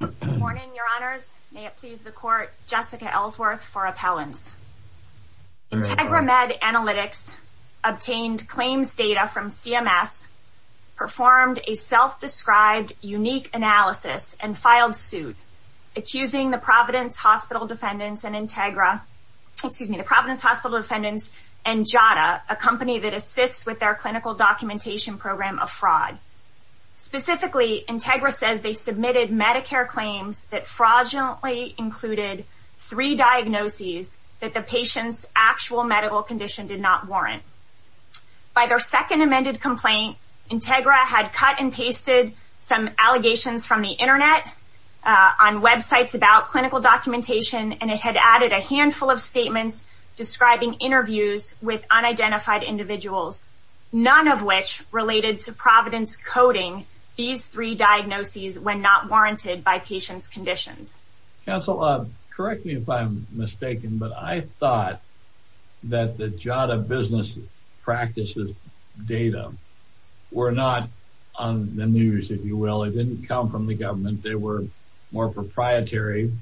Good morning, Your Honors. May it please the Court, Jessica Ellsworth for Appellants. Integra Med Analytics obtained claims data from CMS, performed a self-described unique analysis, and filed suit, accusing the Providence Hospital Defendants and Integra, excuse me, the Providence Hospital Defendants and JADA, a company that assists with their clinical documentation program of fraud. Specifically, Integra says they submitted Medicare claims that fraudulently included three diagnoses that the patient's actual medical condition did not warrant. By their second amended complaint, Integra had cut and pasted some allegations from the Internet on websites about clinical documentation, and it had added a handful of statements describing interviews with unidentified individuals, none of which related to Providence coding these three diagnoses when not warranted by patient's conditions. Counsel, correct me if I'm mistaken, but I thought that the JADA business practices data were not on the news, if you will. It didn't come from the government. They were more proprietary.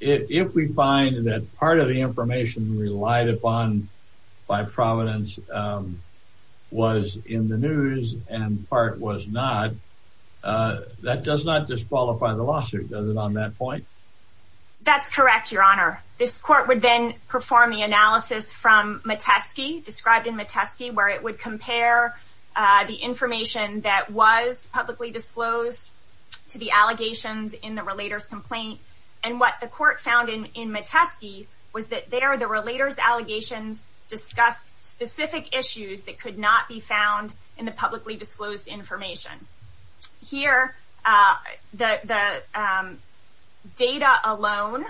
If we find that part of the information relied upon by Providence was in the news and part was not, that does not disqualify the lawsuit, does it, on that point? That's correct, Your Honor. This court would then perform the analysis from Metesky, described in Metesky, where it would compare the information that was publicly disclosed to the allegations in the relator's complaint and what the court found in Metesky was that there the relator's allegations discussed specific issues that could not be found in the publicly disclosed information. Here, the data alone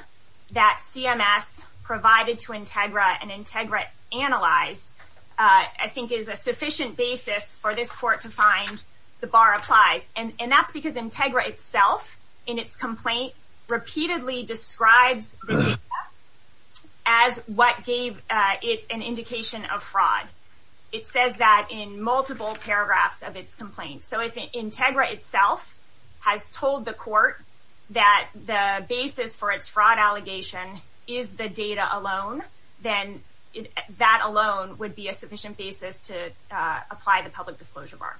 that CMS provided to Integra and Integra analyzed, I think is a sufficient basis for this court to find the bar applies. And that's because Integra itself, in its complaint, repeatedly describes the data as what gave it an indication of fraud. It says that in multiple paragraphs of its complaint. So if Integra itself has told the court that the basis for its fraud allegation is the data alone, then that alone would be a sufficient basis to apply the public disclosure bar.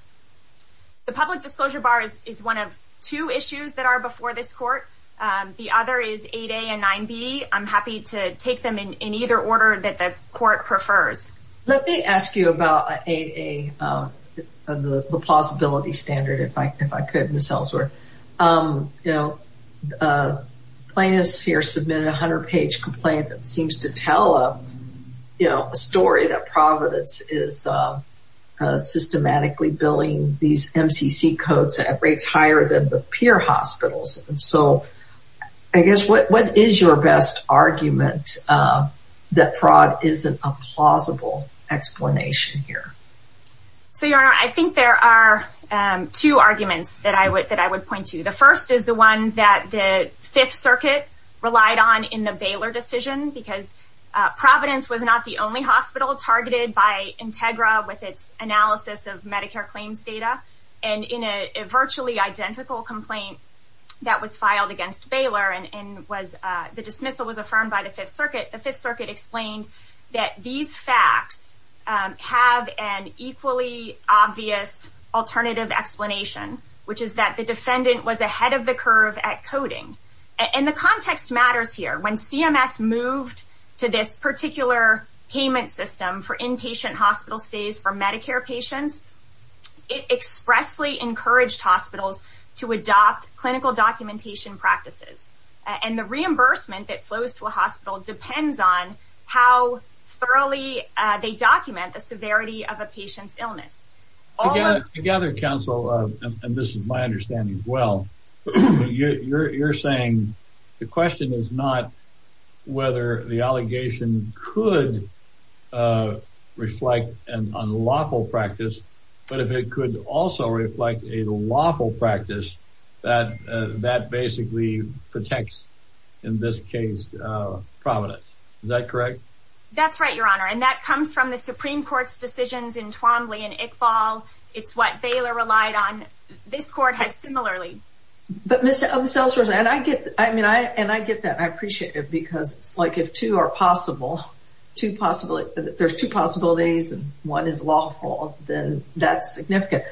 The public disclosure bar is one of two issues that are before this court. The other is 8A and 9B. I'm happy to take them in either order that the court prefers. Let me ask you about 8A, the plausibility standard, if I could, Ms. Ellsworth. Plaintiffs here submitted a 100-page complaint that seems to tell a story that Providence is systematically billing these MCC codes at rates higher than the peer hospitals. So I guess what is your best argument that fraud isn't a plausible explanation here? So, Your Honor, I think there are two arguments that I would point to. The first is the one that the Fifth Circuit relied on in the Baylor decision because Providence was not the only hospital targeted by Integra with its analysis of Medicare claims data. And in a virtually identical complaint that was filed against Baylor and the dismissal was affirmed by the Fifth Circuit, the Fifth Circuit explained that these facts have an equally obvious alternative explanation, which is that the defendant was ahead of the curve at coding. And the context matters here. When CMS moved to this particular payment system for inpatient hospital stays for Medicare patients, it expressly encouraged hospitals to adopt clinical documentation practices. And the reimbursement that flows to a hospital depends on how thoroughly they document the severity of a patient's illness. Together, counsel, and this is my understanding as well, you're saying the question is not whether the allegation could reflect an unlawful practice, but if it could also reflect a lawful practice, that basically protects, in this case, Providence. Is that correct? That's right, Your Honor. And that comes from the Supreme Court's decisions in Twombly and Iqbal. It's what Baylor relied on. This Court has similarly. But Ms. Elsworth, and I get that. I appreciate it because it's like if two are possible, there's two possibilities and one is lawful, then that's significant.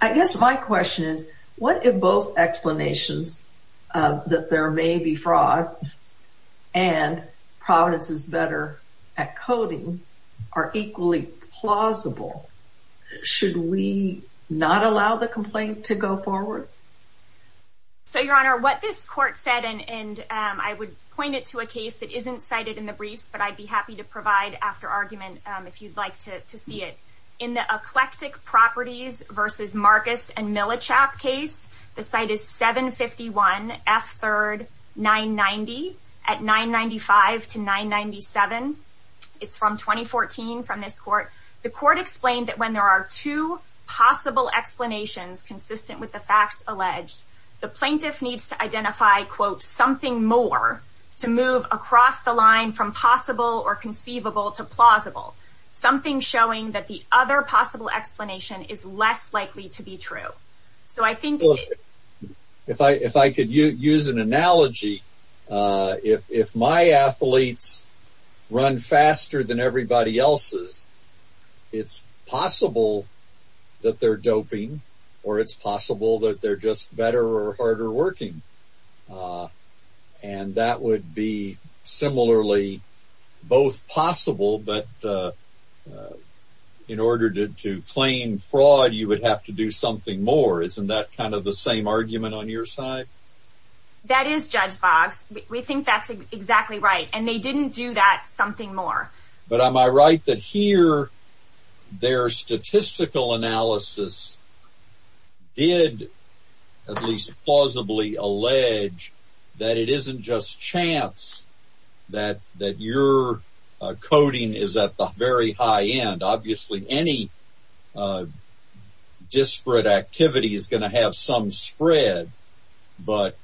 I guess my question is, what if both explanations, that there may be fraud and Providence is better at coding, are equally plausible? Should we not allow the complaint to go forward? So, Your Honor, what this Court said, and I would point it to a case that isn't cited in the briefs, but I'd be happy to provide after argument if you'd like to see it. In the Eclectic Properties v. Marcus and Millichap case, the site is 751 F. 3rd, 990 at 995 to 997. It's from 2014 from this Court. The Court explained that when there are two possible explanations consistent with the facts alleged, the plaintiff needs to identify, quote, something more to move across the line from possible or conceivable to plausible. Something showing that the other possible explanation is less likely to be true. If I could use an analogy, if my athletes run faster than everybody else's, it's possible that they're doping or it's possible that they're just better or harder working. And that would be similarly both possible, but in order to claim fraud, you would have to do something more. Isn't that kind of the same argument on your side? That is, Judge Boggs. We think that's exactly right, and they didn't do that something more. But am I right that here their statistical analysis did, at least plausibly, allege that it isn't just chance that your coding is at the very high end. Obviously, any disparate activity is going to have some spread, but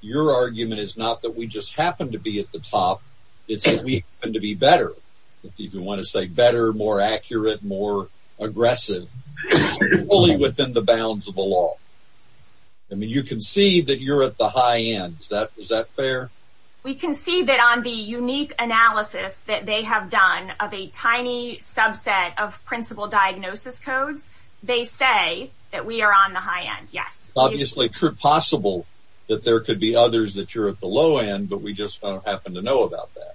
your argument is not that we just happen to be at the top. It's that we happen to be better. If you want to say better, more accurate, more aggressive, fully within the bounds of the law. I mean, you can see that you're at the high end. Is that fair? We can see that on the unique analysis that they have done of a tiny subset of principal diagnosis codes, they say that we are on the high end, yes. Obviously, it's possible that there could be others that you're at the low end, but we just don't happen to know about that.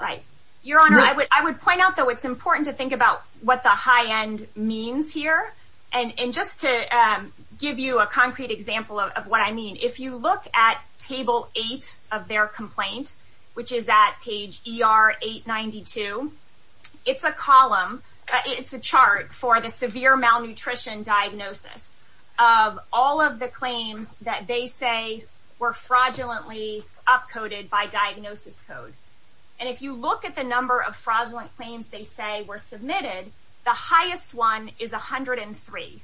Right. Your Honor, I would point out, though, it's important to think about what the high end means here. And just to give you a concrete example of what I mean, if you look at Table 8 of their complaint, which is at page ER892, it's a column, it's a chart for the severe malnutrition diagnosis of all of the claims that they say were fraudulently upcoded by diagnosis code. And if you look at the number of fraudulent claims they say were submitted, the highest one is 103.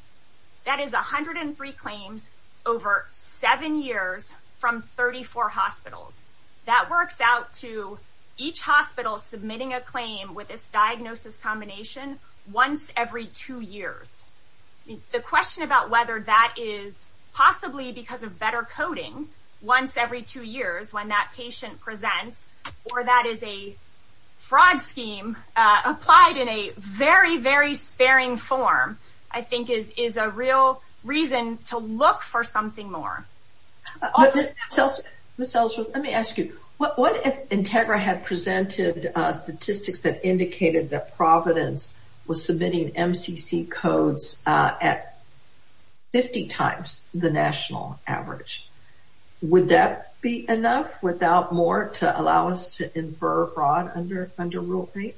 That is 103 claims over seven years from 34 hospitals. That works out to each hospital submitting a claim with this diagnosis combination once every two years. The question about whether that is possibly because of better coding once every two years, when that patient presents, or that is a fraud scheme applied in a very, very sparing form, I think is a real reason to look for something more. Ms. Elsworth, let me ask you. What if Integra had presented statistics that indicated that Providence was submitting MCC codes at 50 times the national average? Would that be enough without more to allow us to infer fraud under rule 8?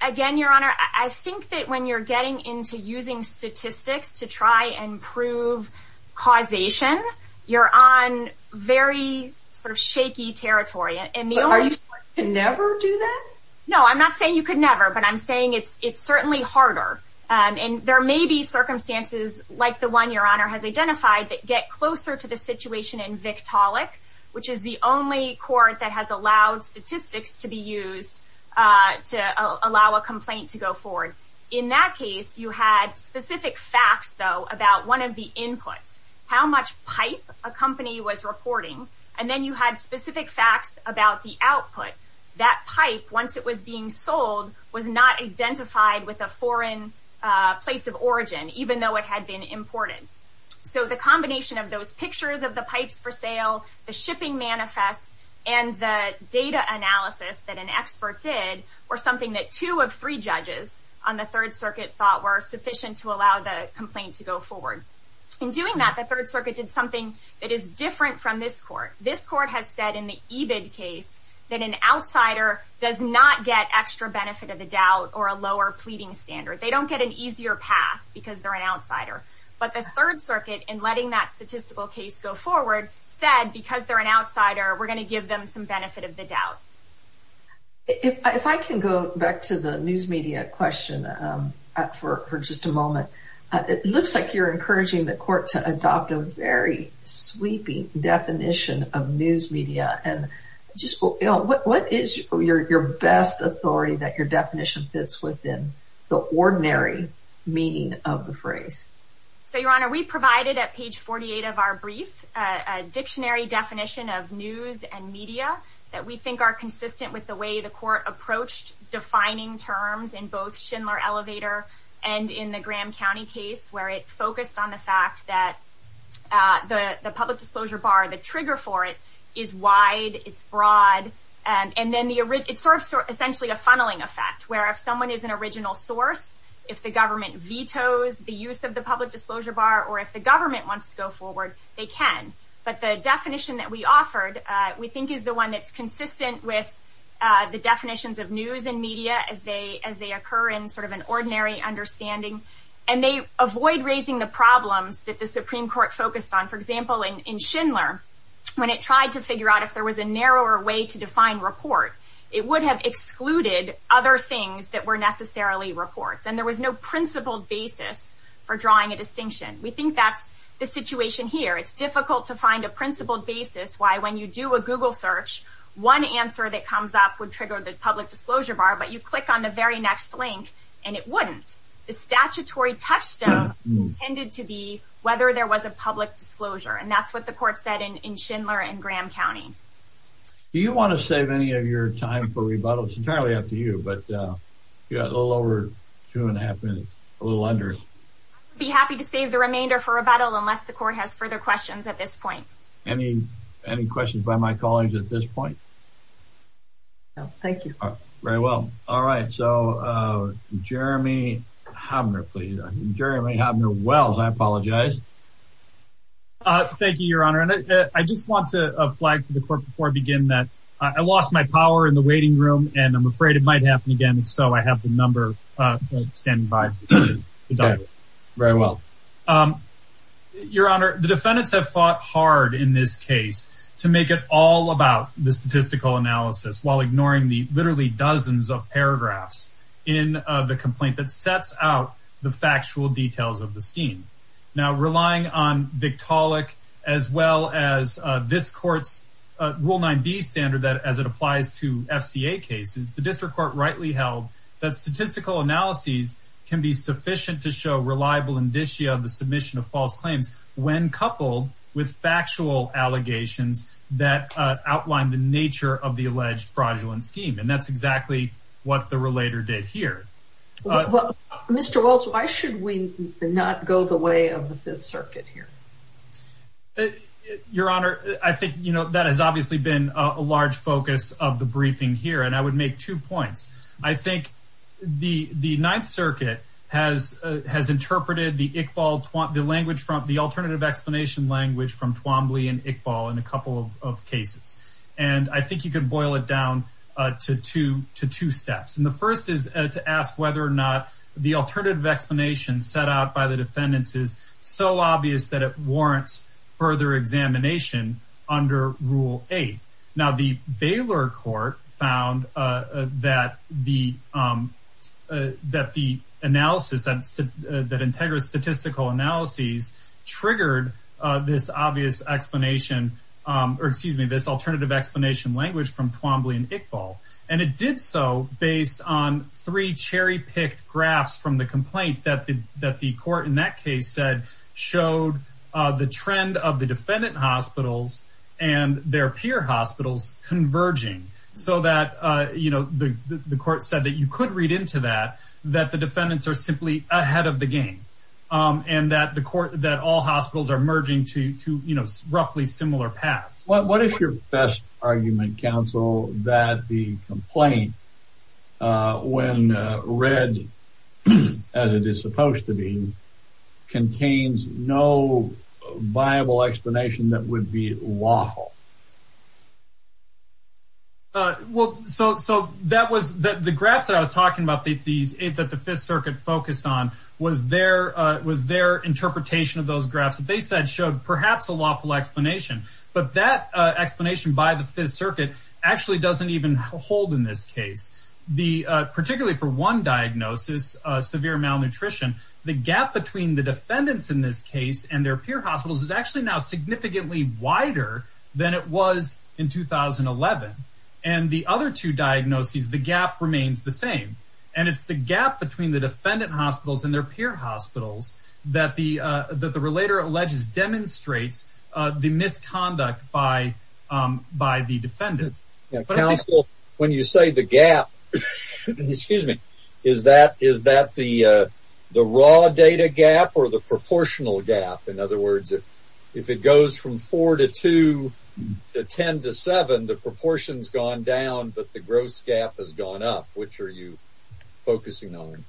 Again, Your Honor, I think that when you're getting into using statistics to try and prove causation, you're on very sort of shaky territory. Are you saying you could never do that? No, I'm not saying you could never, but I'm saying it's certainly harder. And there may be circumstances like the one Your Honor has identified that get closer to the situation in Victaulic, which is the only court that has allowed statistics to be used to allow a complaint to go forward. In that case, you had specific facts, though, about one of the inputs, how much pipe a company was reporting, and then you had specific facts about the output. That pipe, once it was being sold, was not identified with a foreign place of origin, even though it had been imported. So the combination of those pictures of the pipes for sale, the shipping manifest, and the data analysis that an expert did were something that two of three judges on the Third Circuit thought were sufficient to allow the complaint to go forward. In doing that, the Third Circuit did something that is different from this court. This court has said in the EBID case that an outsider does not get extra benefit of the doubt or a lower pleading standard. They don't get an easier path because they're an outsider. But the Third Circuit, in letting that statistical case go forward, said because they're an outsider, we're going to give them some benefit of the doubt. If I can go back to the news media question for just a moment. It looks like you're encouraging the court to adopt a very sweeping definition of news media. What is your best authority that your definition fits within the ordinary meaning of the phrase? So, Your Honor, we provided at page 48 of our brief a dictionary definition of news and media that we think are consistent with the way the court approached defining terms in both Schindler Elevator and in the Graham County case where it focused on the fact that the public disclosure bar, the trigger for it, is wide, it's broad, and then it serves essentially a funneling effect where if someone is an original source, if the government vetoes the use of the public disclosure bar, or if the government wants to go forward, they can. But the definition that we offered we think is the one that's consistent with the definitions of news and media as they occur in sort of an ordinary understanding. And they avoid raising the problems that the Supreme Court focused on. For example, in Schindler, when it tried to figure out if there was a narrower way to define report, it would have excluded other things that were necessarily reports, and there was no principled basis for drawing a distinction. We think that's the situation here. It's difficult to find a principled basis why when you do a Google search, one answer that comes up would trigger the public disclosure bar, but you click on the very next link and it wouldn't. The statutory touchstone tended to be whether there was a public disclosure, and that's what the court said in Schindler and Graham County. Do you want to save any of your time for rebuttal? It's entirely up to you, but you got a little over two and a half minutes, a little under. I'd be happy to save the remainder for rebuttal unless the court has further questions at this point. Any questions by my colleagues at this point? No, thank you. Very well. All right, so Jeremy Hobner, please. Jeremy Hobner-Wells, I apologize. Thank you, Your Honor. I just want to flag to the court before I begin that I lost my power in the waiting room, and I'm afraid it might happen again, and so I have the number standing by. Very well. Your Honor, the defendants have fought hard in this case to make it all about the statistical analysis while ignoring the literally dozens of paragraphs in the complaint that sets out the factual details of the scheme. Now, relying on Victaulic as well as this court's Rule 9b standard as it applies to FCA cases, the district court rightly held that statistical analyses can be sufficient to show reliable indicia of the submission of false claims when coupled with factual allegations that outline the nature of the alleged fraudulent scheme, and that's exactly what the relator did here. Mr. Waltz, why should we not go the way of the Fifth Circuit here? Your Honor, I think that has obviously been a large focus of the briefing here, and I would make two points. I think the Ninth Circuit has interpreted the alternative explanation language from Twombly and Iqbal in a couple of cases, and I think you can boil it down to two steps. And the first is to ask whether or not the alternative explanation set out by the defendants is so obvious that it warrants further examination under Rule 8. Now, the Baylor court found that the analysis that integrates statistical analyses triggered this obvious explanation or, excuse me, this alternative explanation language from Twombly and Iqbal, and it did so based on three cherry-picked graphs from the complaint that the court in that case said showed the trend of the defendant hospitals and their peer hospitals converging, so that the court said that you could read into that that the defendants are simply ahead of the game and that all hospitals are merging to roughly similar paths. What is your best argument, counsel, that the complaint, when read as it is supposed to be, contains no viable explanation that would be lawful? Well, so the graphs that I was talking about, that the Fifth Circuit focused on, was their interpretation of those graphs that they said showed perhaps a lawful explanation, but that explanation by the Fifth Circuit actually doesn't even hold in this case. Particularly for one diagnosis, severe malnutrition, the gap between the defendants in this case and their peer hospitals is actually now significantly wider than it was in 2011, and the other two diagnoses, the gap remains the same, and it's the gap between the defendant hospitals and their peer hospitals that the relator alleges demonstrates the misconduct by the defendants. Counsel, when you say the gap, is that the raw data gap or the proportional gap? In other words, if it goes from 4 to 2 to 10 to 7, the proportion's gone down, but the gross gap has gone up. Which are you focusing on?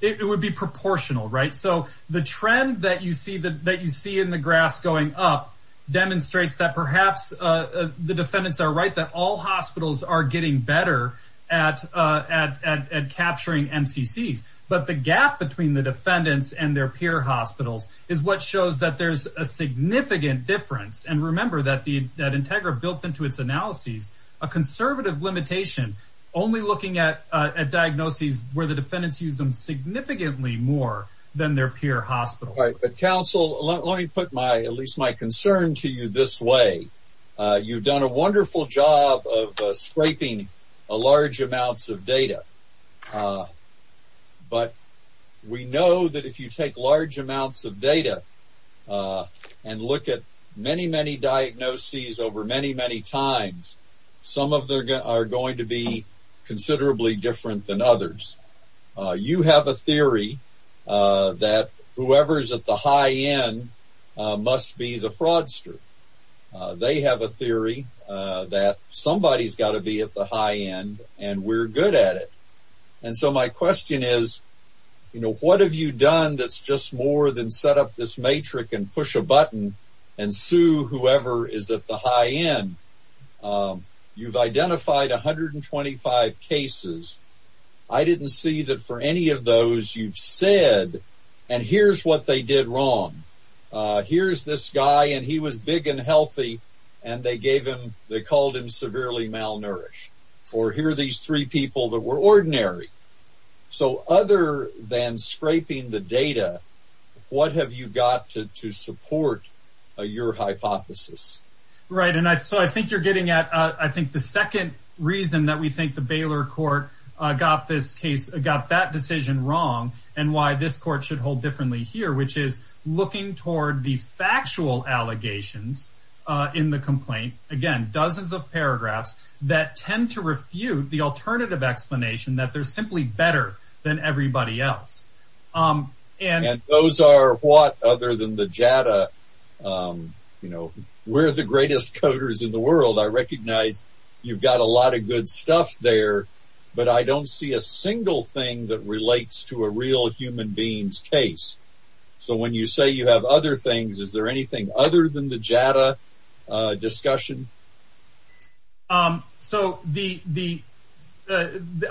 It would be proportional, right? So the trend that you see in the graphs going up demonstrates that perhaps the defendants are right, that all hospitals are getting better at capturing MCCs, but the gap between the defendants and their peer hospitals is what shows that there's a significant difference, and remember that Integra built into its analyses a conservative limitation, only looking at diagnoses where the defendants used them significantly more than their peer hospitals. Counsel, let me put at least my concern to you this way. You've done a wonderful job of scraping large amounts of data, but we know that if you take large amounts of data and look at many, many diagnoses over many, many times, some of them are going to be considerably different than others. You have a theory that whoever's at the high end must be the fraudster. They have a theory that somebody's got to be at the high end, and we're good at it. And so my question is, what have you done that's just more than set up this matrix and push a button and sue whoever is at the high end? You've identified 125 cases. I didn't see that for any of those you've said, and here's what they did wrong. Here's this guy, and he was big and healthy, and they called him severely malnourished, or here are these three people that were ordinary. So other than scraping the data, what have you got to support your hypothesis? Right, and so I think you're getting at I think the second reason that we think the Baylor court got that decision wrong and why this court should hold differently here, which is looking toward the factual allegations in the complaint. Again, dozens of paragraphs that tend to refute the alternative explanation that they're simply better than everybody else. And those are what, other than the JADA, we're the greatest coders in the world. I recognize you've got a lot of good stuff there, but I don't see a single thing that relates to a real human being's case. So when you say you have other things, is there anything other than the JADA discussion? So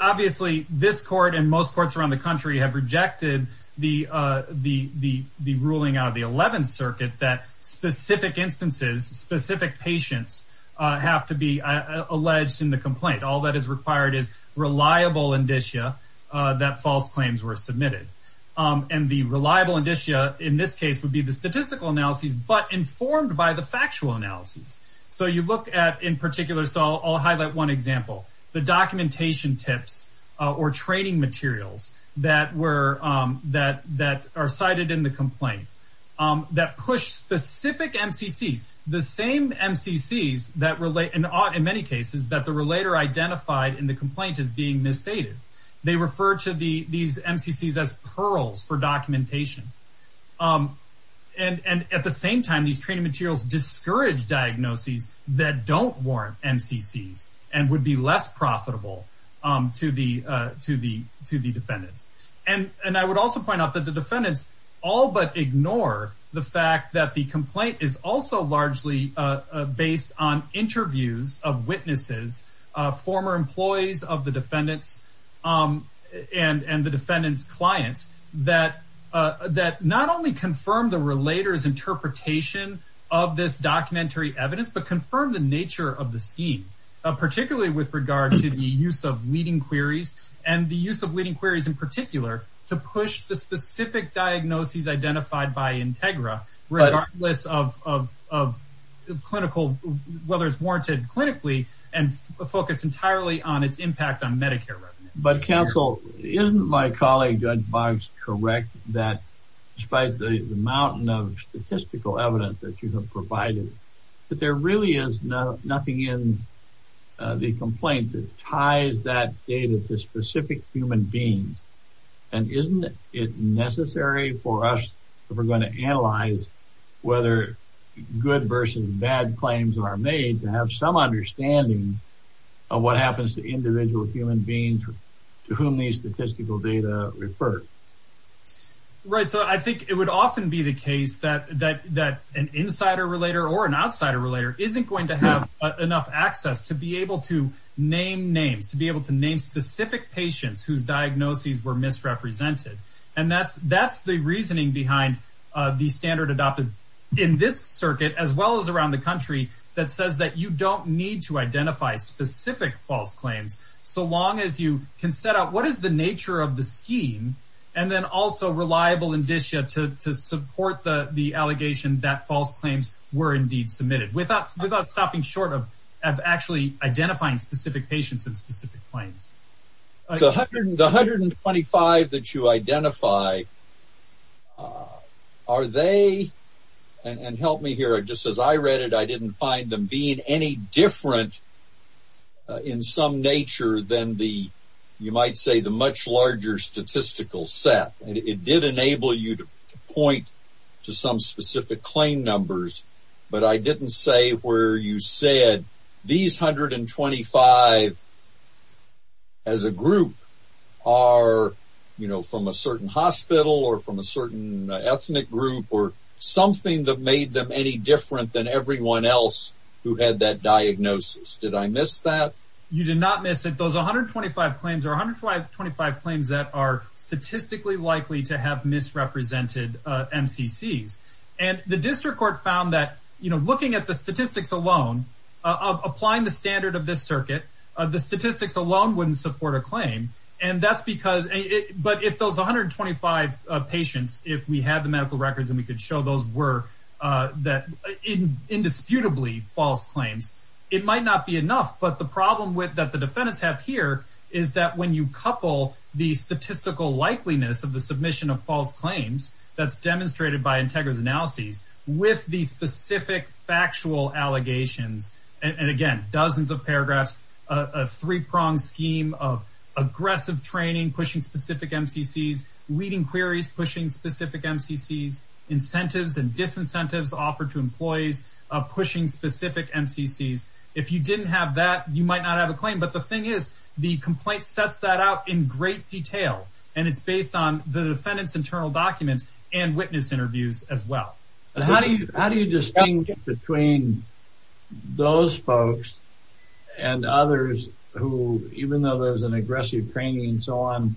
obviously this court and most courts around the country have rejected the ruling out of the Eleventh Circuit that specific instances, specific patients have to be alleged in the complaint. All that is required is reliable indicia that false claims were submitted. And the reliable indicia in this case would be the statistical analyses, but informed by the factual analyses. So you look at in particular, so I'll highlight one example, the documentation tips or training materials that are cited in the complaint that push specific MCCs, the same MCCs that relate in many cases that the relator identified in the complaint as being misstated. They refer to these MCCs as pearls for documentation. And at the same time, these training materials discourage diagnoses that don't warrant MCCs and would be less profitable to the defendants. And I would also point out that the defendants all but ignore the fact that the complaint is also largely based on interviews of witnesses, former employees of the defendants and the defendants' clients that not only confirm the relator's interpretation of this documentary evidence, but confirm the nature of the scheme, particularly with regard to the use of leading queries and the use of leading queries in particular to push the specific diagnoses identified by Integra regardless of clinical, whether it's warranted clinically and focus entirely on its impact on Medicare revenue. But counsel, isn't my colleague Judge Boggs correct that despite the mountain of statistical evidence that you have provided, that there really is nothing in the complaint that ties that data to specific human beings? And isn't it necessary for us if we're going to analyze whether good versus bad claims are made to have some understanding of what happens to individual human beings to whom these statistical data refer? Right. So I think it would often be the case that an insider relator or an outsider relator isn't going to have enough access to be able to name names, to be able to name specific patients whose diagnoses were misrepresented. And that's the reasoning behind the standard adopted in this circuit, as well as around the country, that says that you don't need to identify specific false claims so long as you can set out what is the nature of the scheme, and then also reliable indicia to support the allegation that false claims were indeed submitted without stopping short of actually identifying specific patients and specific claims. The 125 that you identify, are they – and help me here. Just as I read it, I didn't find them being any different in some nature than the, you might say, the much larger statistical set. It did enable you to point to some specific claim numbers, but I didn't say where you said these 125 as a group are from a certain hospital or from a certain ethnic group or something that made them any different than everyone else who had that diagnosis. Did I miss that? You did not miss it. Those 125 claims are 125 claims that are statistically likely to have misrepresented MCCs. And the district court found that looking at the statistics alone, applying the standard of this circuit, the statistics alone wouldn't support a claim. And that's because – but if those 125 patients, if we had the medical records and we could show those were indisputably false claims, it might not be enough. But the problem that the defendants have here is that when you couple the statistical likeliness of the submission of false claims that's demonstrated by Integra's analyses with the specific factual allegations, and again, dozens of paragraphs, a three-pronged scheme of aggressive training, pushing specific MCCs, leading queries, pushing specific MCCs, incentives and disincentives offered to employees, pushing specific MCCs. If you didn't have that, you might not have a claim. But the thing is the complaint sets that out in great detail. And it's based on the defendant's internal documents and witness interviews as well. How do you distinguish between those folks and others who, even though there's an aggressive training and so on,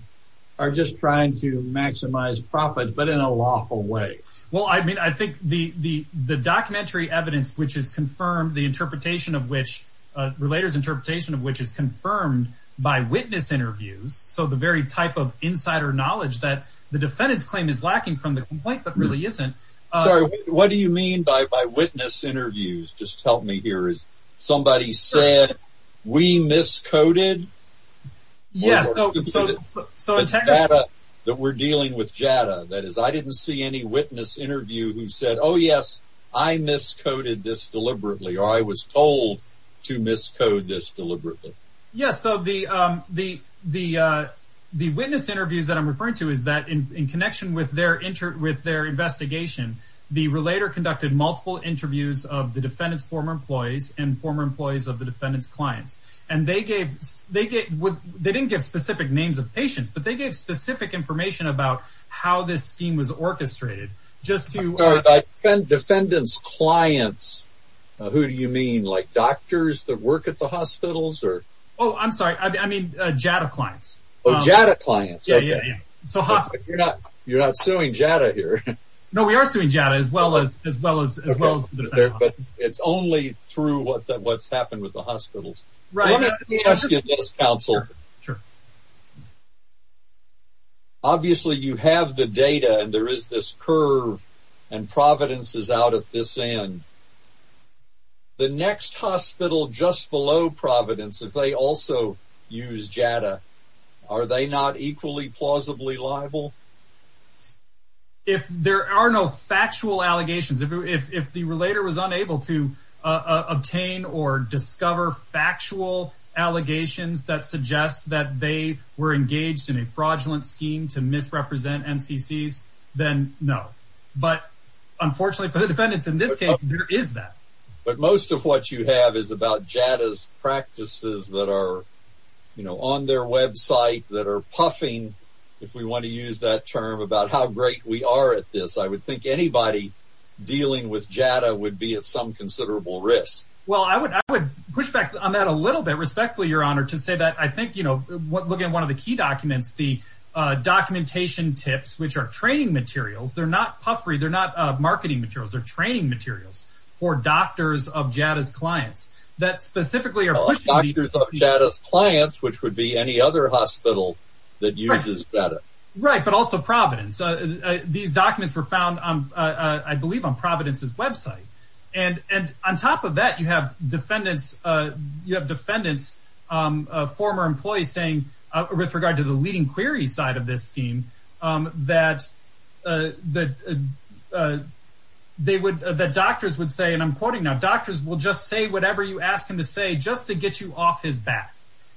are just trying to maximize profit but in a lawful way? Well, I mean, I think the documentary evidence which is confirmed, the interpretation of which – Relator's interpretation of which is confirmed by witness interviews, so the very type of insider knowledge that the defendant's claim is lacking from the complaint but really isn't. Sorry, what do you mean by witness interviews? Just help me here. Somebody said we miscoded? The data that we're dealing with JADA, that is, I didn't see any witness interview who said, oh yes, I miscoded this deliberately or I was told to miscode this deliberately. Yes, so the witness interviews that I'm referring to is that in connection with their investigation, the Relator conducted multiple interviews of the defendant's former employees and former employees of the defendant's clients. And they gave – they didn't give specific names of patients, but they gave specific information about how this scheme was orchestrated. Defendant's clients, who do you mean? Like doctors that work at the hospitals? Oh, I'm sorry. I mean JADA clients. Oh, JADA clients. Yeah, yeah, yeah. You're not suing JADA here. No, we are suing JADA as well as the defendants. But it's only through what's happened with the hospitals. Right. Let me ask you this, counsel. Sure. Obviously, you have the data and there is this curve and Providence is out at this end. The next hospital just below Providence, if they also use JADA, are they not equally plausibly liable? If there are no factual allegations, if the Relator was unable to obtain or discover factual allegations that suggest that they were engaged in a fraudulent scheme to misrepresent MCCs, then no. But unfortunately for the defendants in this case, there is that. But most of what you have is about JADA's practices that are on their website, that are puffing, if we want to use that term, about how great we are at this. I would think anybody dealing with JADA would be at some considerable risk. Well, I would push back on that a little bit, respectfully, Your Honor, to say that I think, you know, look at one of the key documents, the documentation tips, which are training materials. They're not puffery. They're not marketing materials. They're training materials for doctors of JADA's clients that specifically are pushing the… Doctors of JADA's clients, which would be any other hospital that uses JADA. Right. But also Providence. These documents were found, I believe, on Providence's website. And on top of that, you have defendants, former employees saying, with regard to the leading query side of this scheme, that doctors would say, and I'm quoting now, doctors will just say whatever you ask them to say just to get you off his back.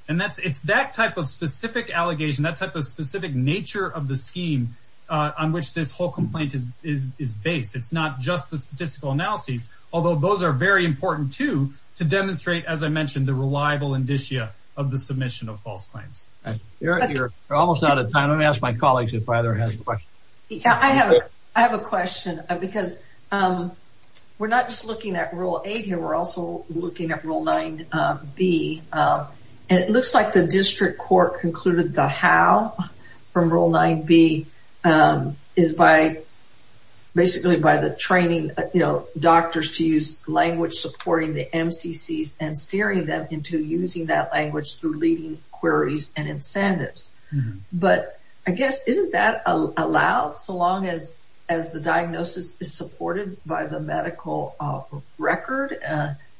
And it's that type of specific allegation, that type of specific nature of the scheme on which this whole complaint is based. It's not just the statistical analyses, although those are very important, too, to demonstrate, as I mentioned, the reliable indicia of the submission of false claims. You're almost out of time. Let me ask my colleagues if either has a question. I have a question because we're not just looking at Rule 8 here. We're also looking at Rule 9B. And it looks like the district court concluded the how from Rule 9B is basically by the training, you know, doctors to use language supporting the MCCs and steering them into using that language through leading queries and incentives. But I guess isn't that allowed so long as the diagnosis is supported by the medical record?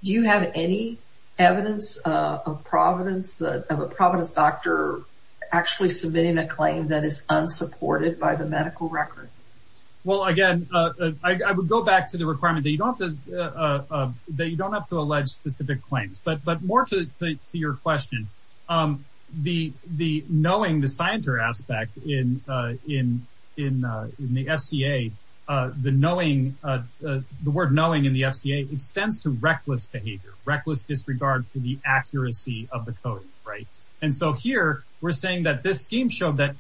Do you have any evidence of a providence doctor actually submitting a claim that is unsupported by the medical record? Well, again, I would go back to the requirement that you don't have to allege specific claims. But more to your question, the knowing, the scienter aspect in the FCA, the knowing, the word knowing in the FCA extends to reckless behavior, reckless disregard for the accuracy of the coding, right? And so here we're saying that this scheme showed that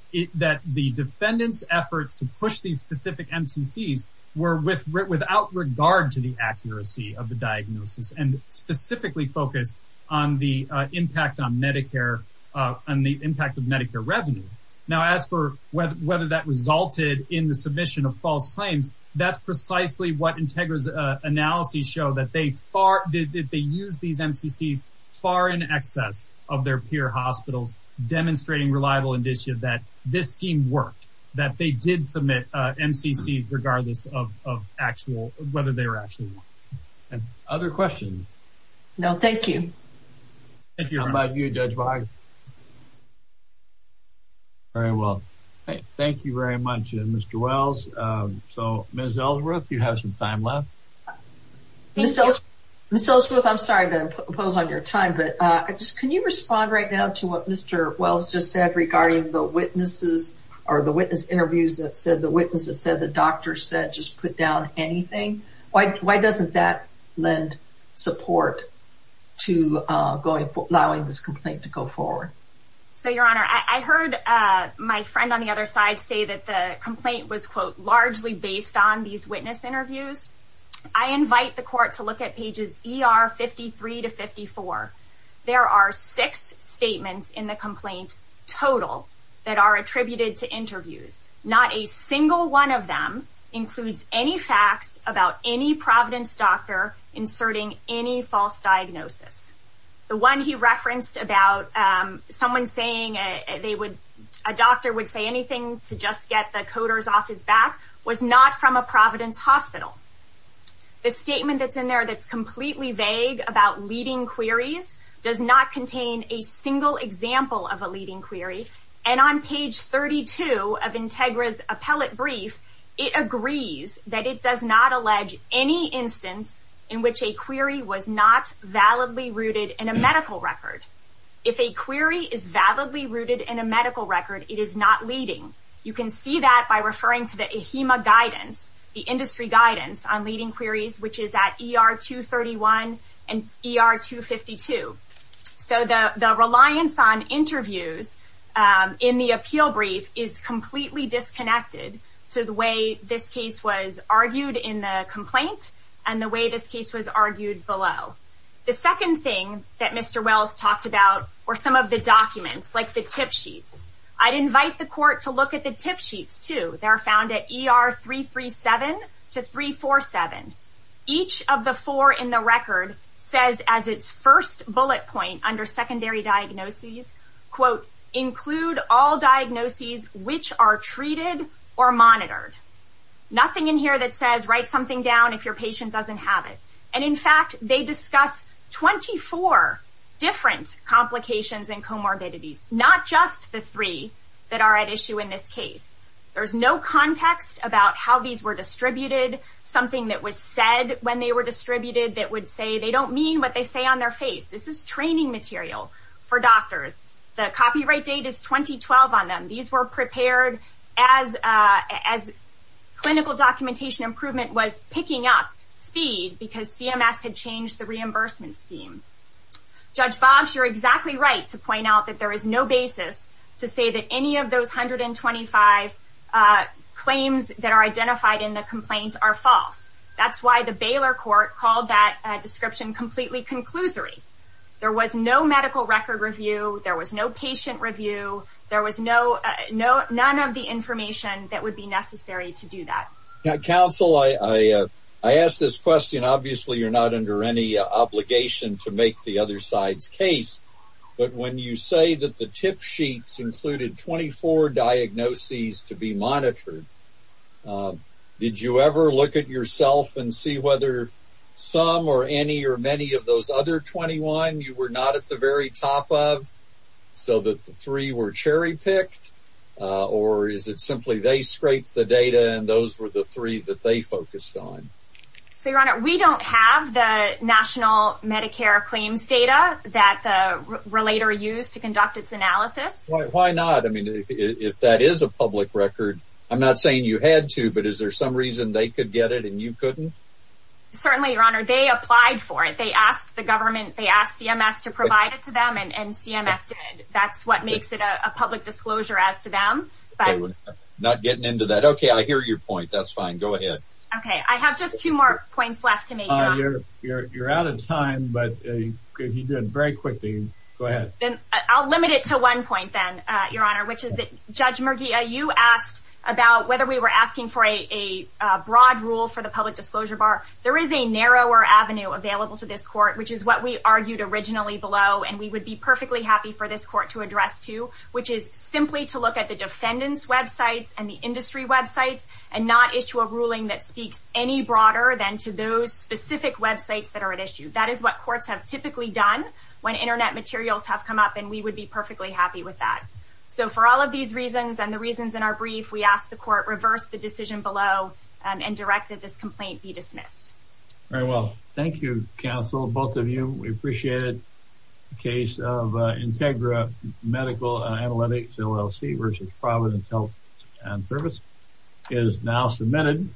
the defendants' efforts to push these specific MCCs were without regard to the accuracy of the diagnosis and specifically focused on the impact on Medicare and the impact of Medicare revenue. Now, as for whether that resulted in the submission of false claims, that's precisely what Integra's analyses show, that they used these MCCs far in excess of their peer hospitals, demonstrating reliable indicia that this scheme worked, that they did submit MCCs regardless of whether they were actually won. Other questions? No, thank you. How about you, Judge Boggs? Very well. Thank you very much, Mr. Wells. So, Ms. Ellsworth, you have some time left. Ms. Ellsworth, I'm sorry to impose on your time, but can you respond right now to what Mr. Wells just said regarding the witnesses or the witness interviews that said the witnesses said the doctor said just put down anything? Why doesn't that lend support to allowing this complaint to go forward? So, Your Honor, I heard my friend on the other side say that the complaint was, quote, largely based on these witness interviews. I invite the court to look at pages ER 53 to 54. There are six statements in the complaint total that are attributed to interviews. Not a single one of them includes any facts about any Providence doctor inserting any false diagnosis. The one he referenced about someone saying a doctor would say anything to just get the coders off his back was not from a Providence hospital. The statement that's in there that's completely vague about leading queries does not contain a single example of a leading query. And on page 32 of Integra's appellate brief, it agrees that it does not allege any instance in which a query was not validly rooted in a medical record. If a query is validly rooted in a medical record, it is not leading. You can see that by referring to the AHIMA guidance, the industry guidance on leading queries, which is at ER 231 and ER 252. So the reliance on interviews in the appeal brief is completely disconnected to the way this case was argued in the complaint and the way this case was argued below. The second thing that Mr. Wells talked about were some of the documents, like the tip sheets. I'd invite the court to look at the tip sheets too. They're found at ER 337 to 347. Each of the four in the record says as its first bullet point under secondary diagnoses, quote, include all diagnoses which are treated or monitored. Nothing in here that says write something down if your patient doesn't have it. And in fact, they discuss 24 different complications and comorbidities, not just the three that are at issue in this case. There's no context about how these were distributed, something that was said when they were distributed that would say they don't mean what they say on their face. This is training material for doctors. The copyright date is 2012 on them. These were prepared as clinical documentation improvement was picking up speed because CMS had changed the reimbursement scheme. Judge Boggs, you're exactly right to point out that there is no basis to say that any of those 125 claims that are identified in the complaint are false. That's why the Baylor court called that description completely conclusory. There was no medical record review. There was no patient review. There was none of the information that would be necessary to do that. Counsel, I ask this question, obviously you're not under any obligation to make the other side's case, but when you say that the tip sheets included 24 diagnoses to be monitored, did you ever look at yourself and see whether some or any or many of those other 21 you were not at the very top of so that the three were cherry-picked? Or is it simply they scraped the data and those were the three that they focused on? Your Honor, we don't have the national Medicare claims data that the relator used to conduct its analysis. Why not? I mean, if that is a public record, I'm not saying you had to, but is there some reason they could get it and you couldn't? Certainly, Your Honor. They applied for it. They asked the government. They asked CMS to provide it to them, and CMS did. That's what makes it a public disclosure as to them. Not getting into that. Okay, I hear your point. That's fine. Go ahead. Okay, I have just two more points left to make, Your Honor. You're out of time, but he did very quickly. Go ahead. I'll limit it to one point then, Your Honor, which is that, Judge Murgia, you asked about whether we were asking for a broad rule for the public disclosure bar. There is a narrower avenue available to this court, which is what we argued originally below, and we would be perfectly happy for this court to address too, which is simply to look at the defendant's websites and the industry websites and not issue a ruling that speaks any broader than to those specific websites that are at issue. That is what courts have typically done when Internet materials have come up, and we would be perfectly happy with that. So, for all of these reasons and the reasons in our brief, we ask the court reverse the decision below and direct that this complaint be dismissed. Very well. Thank you, counsel, both of you. We appreciate it. The case of Integra Medical Analytics LLC v. Providence Health and Service is now submitted.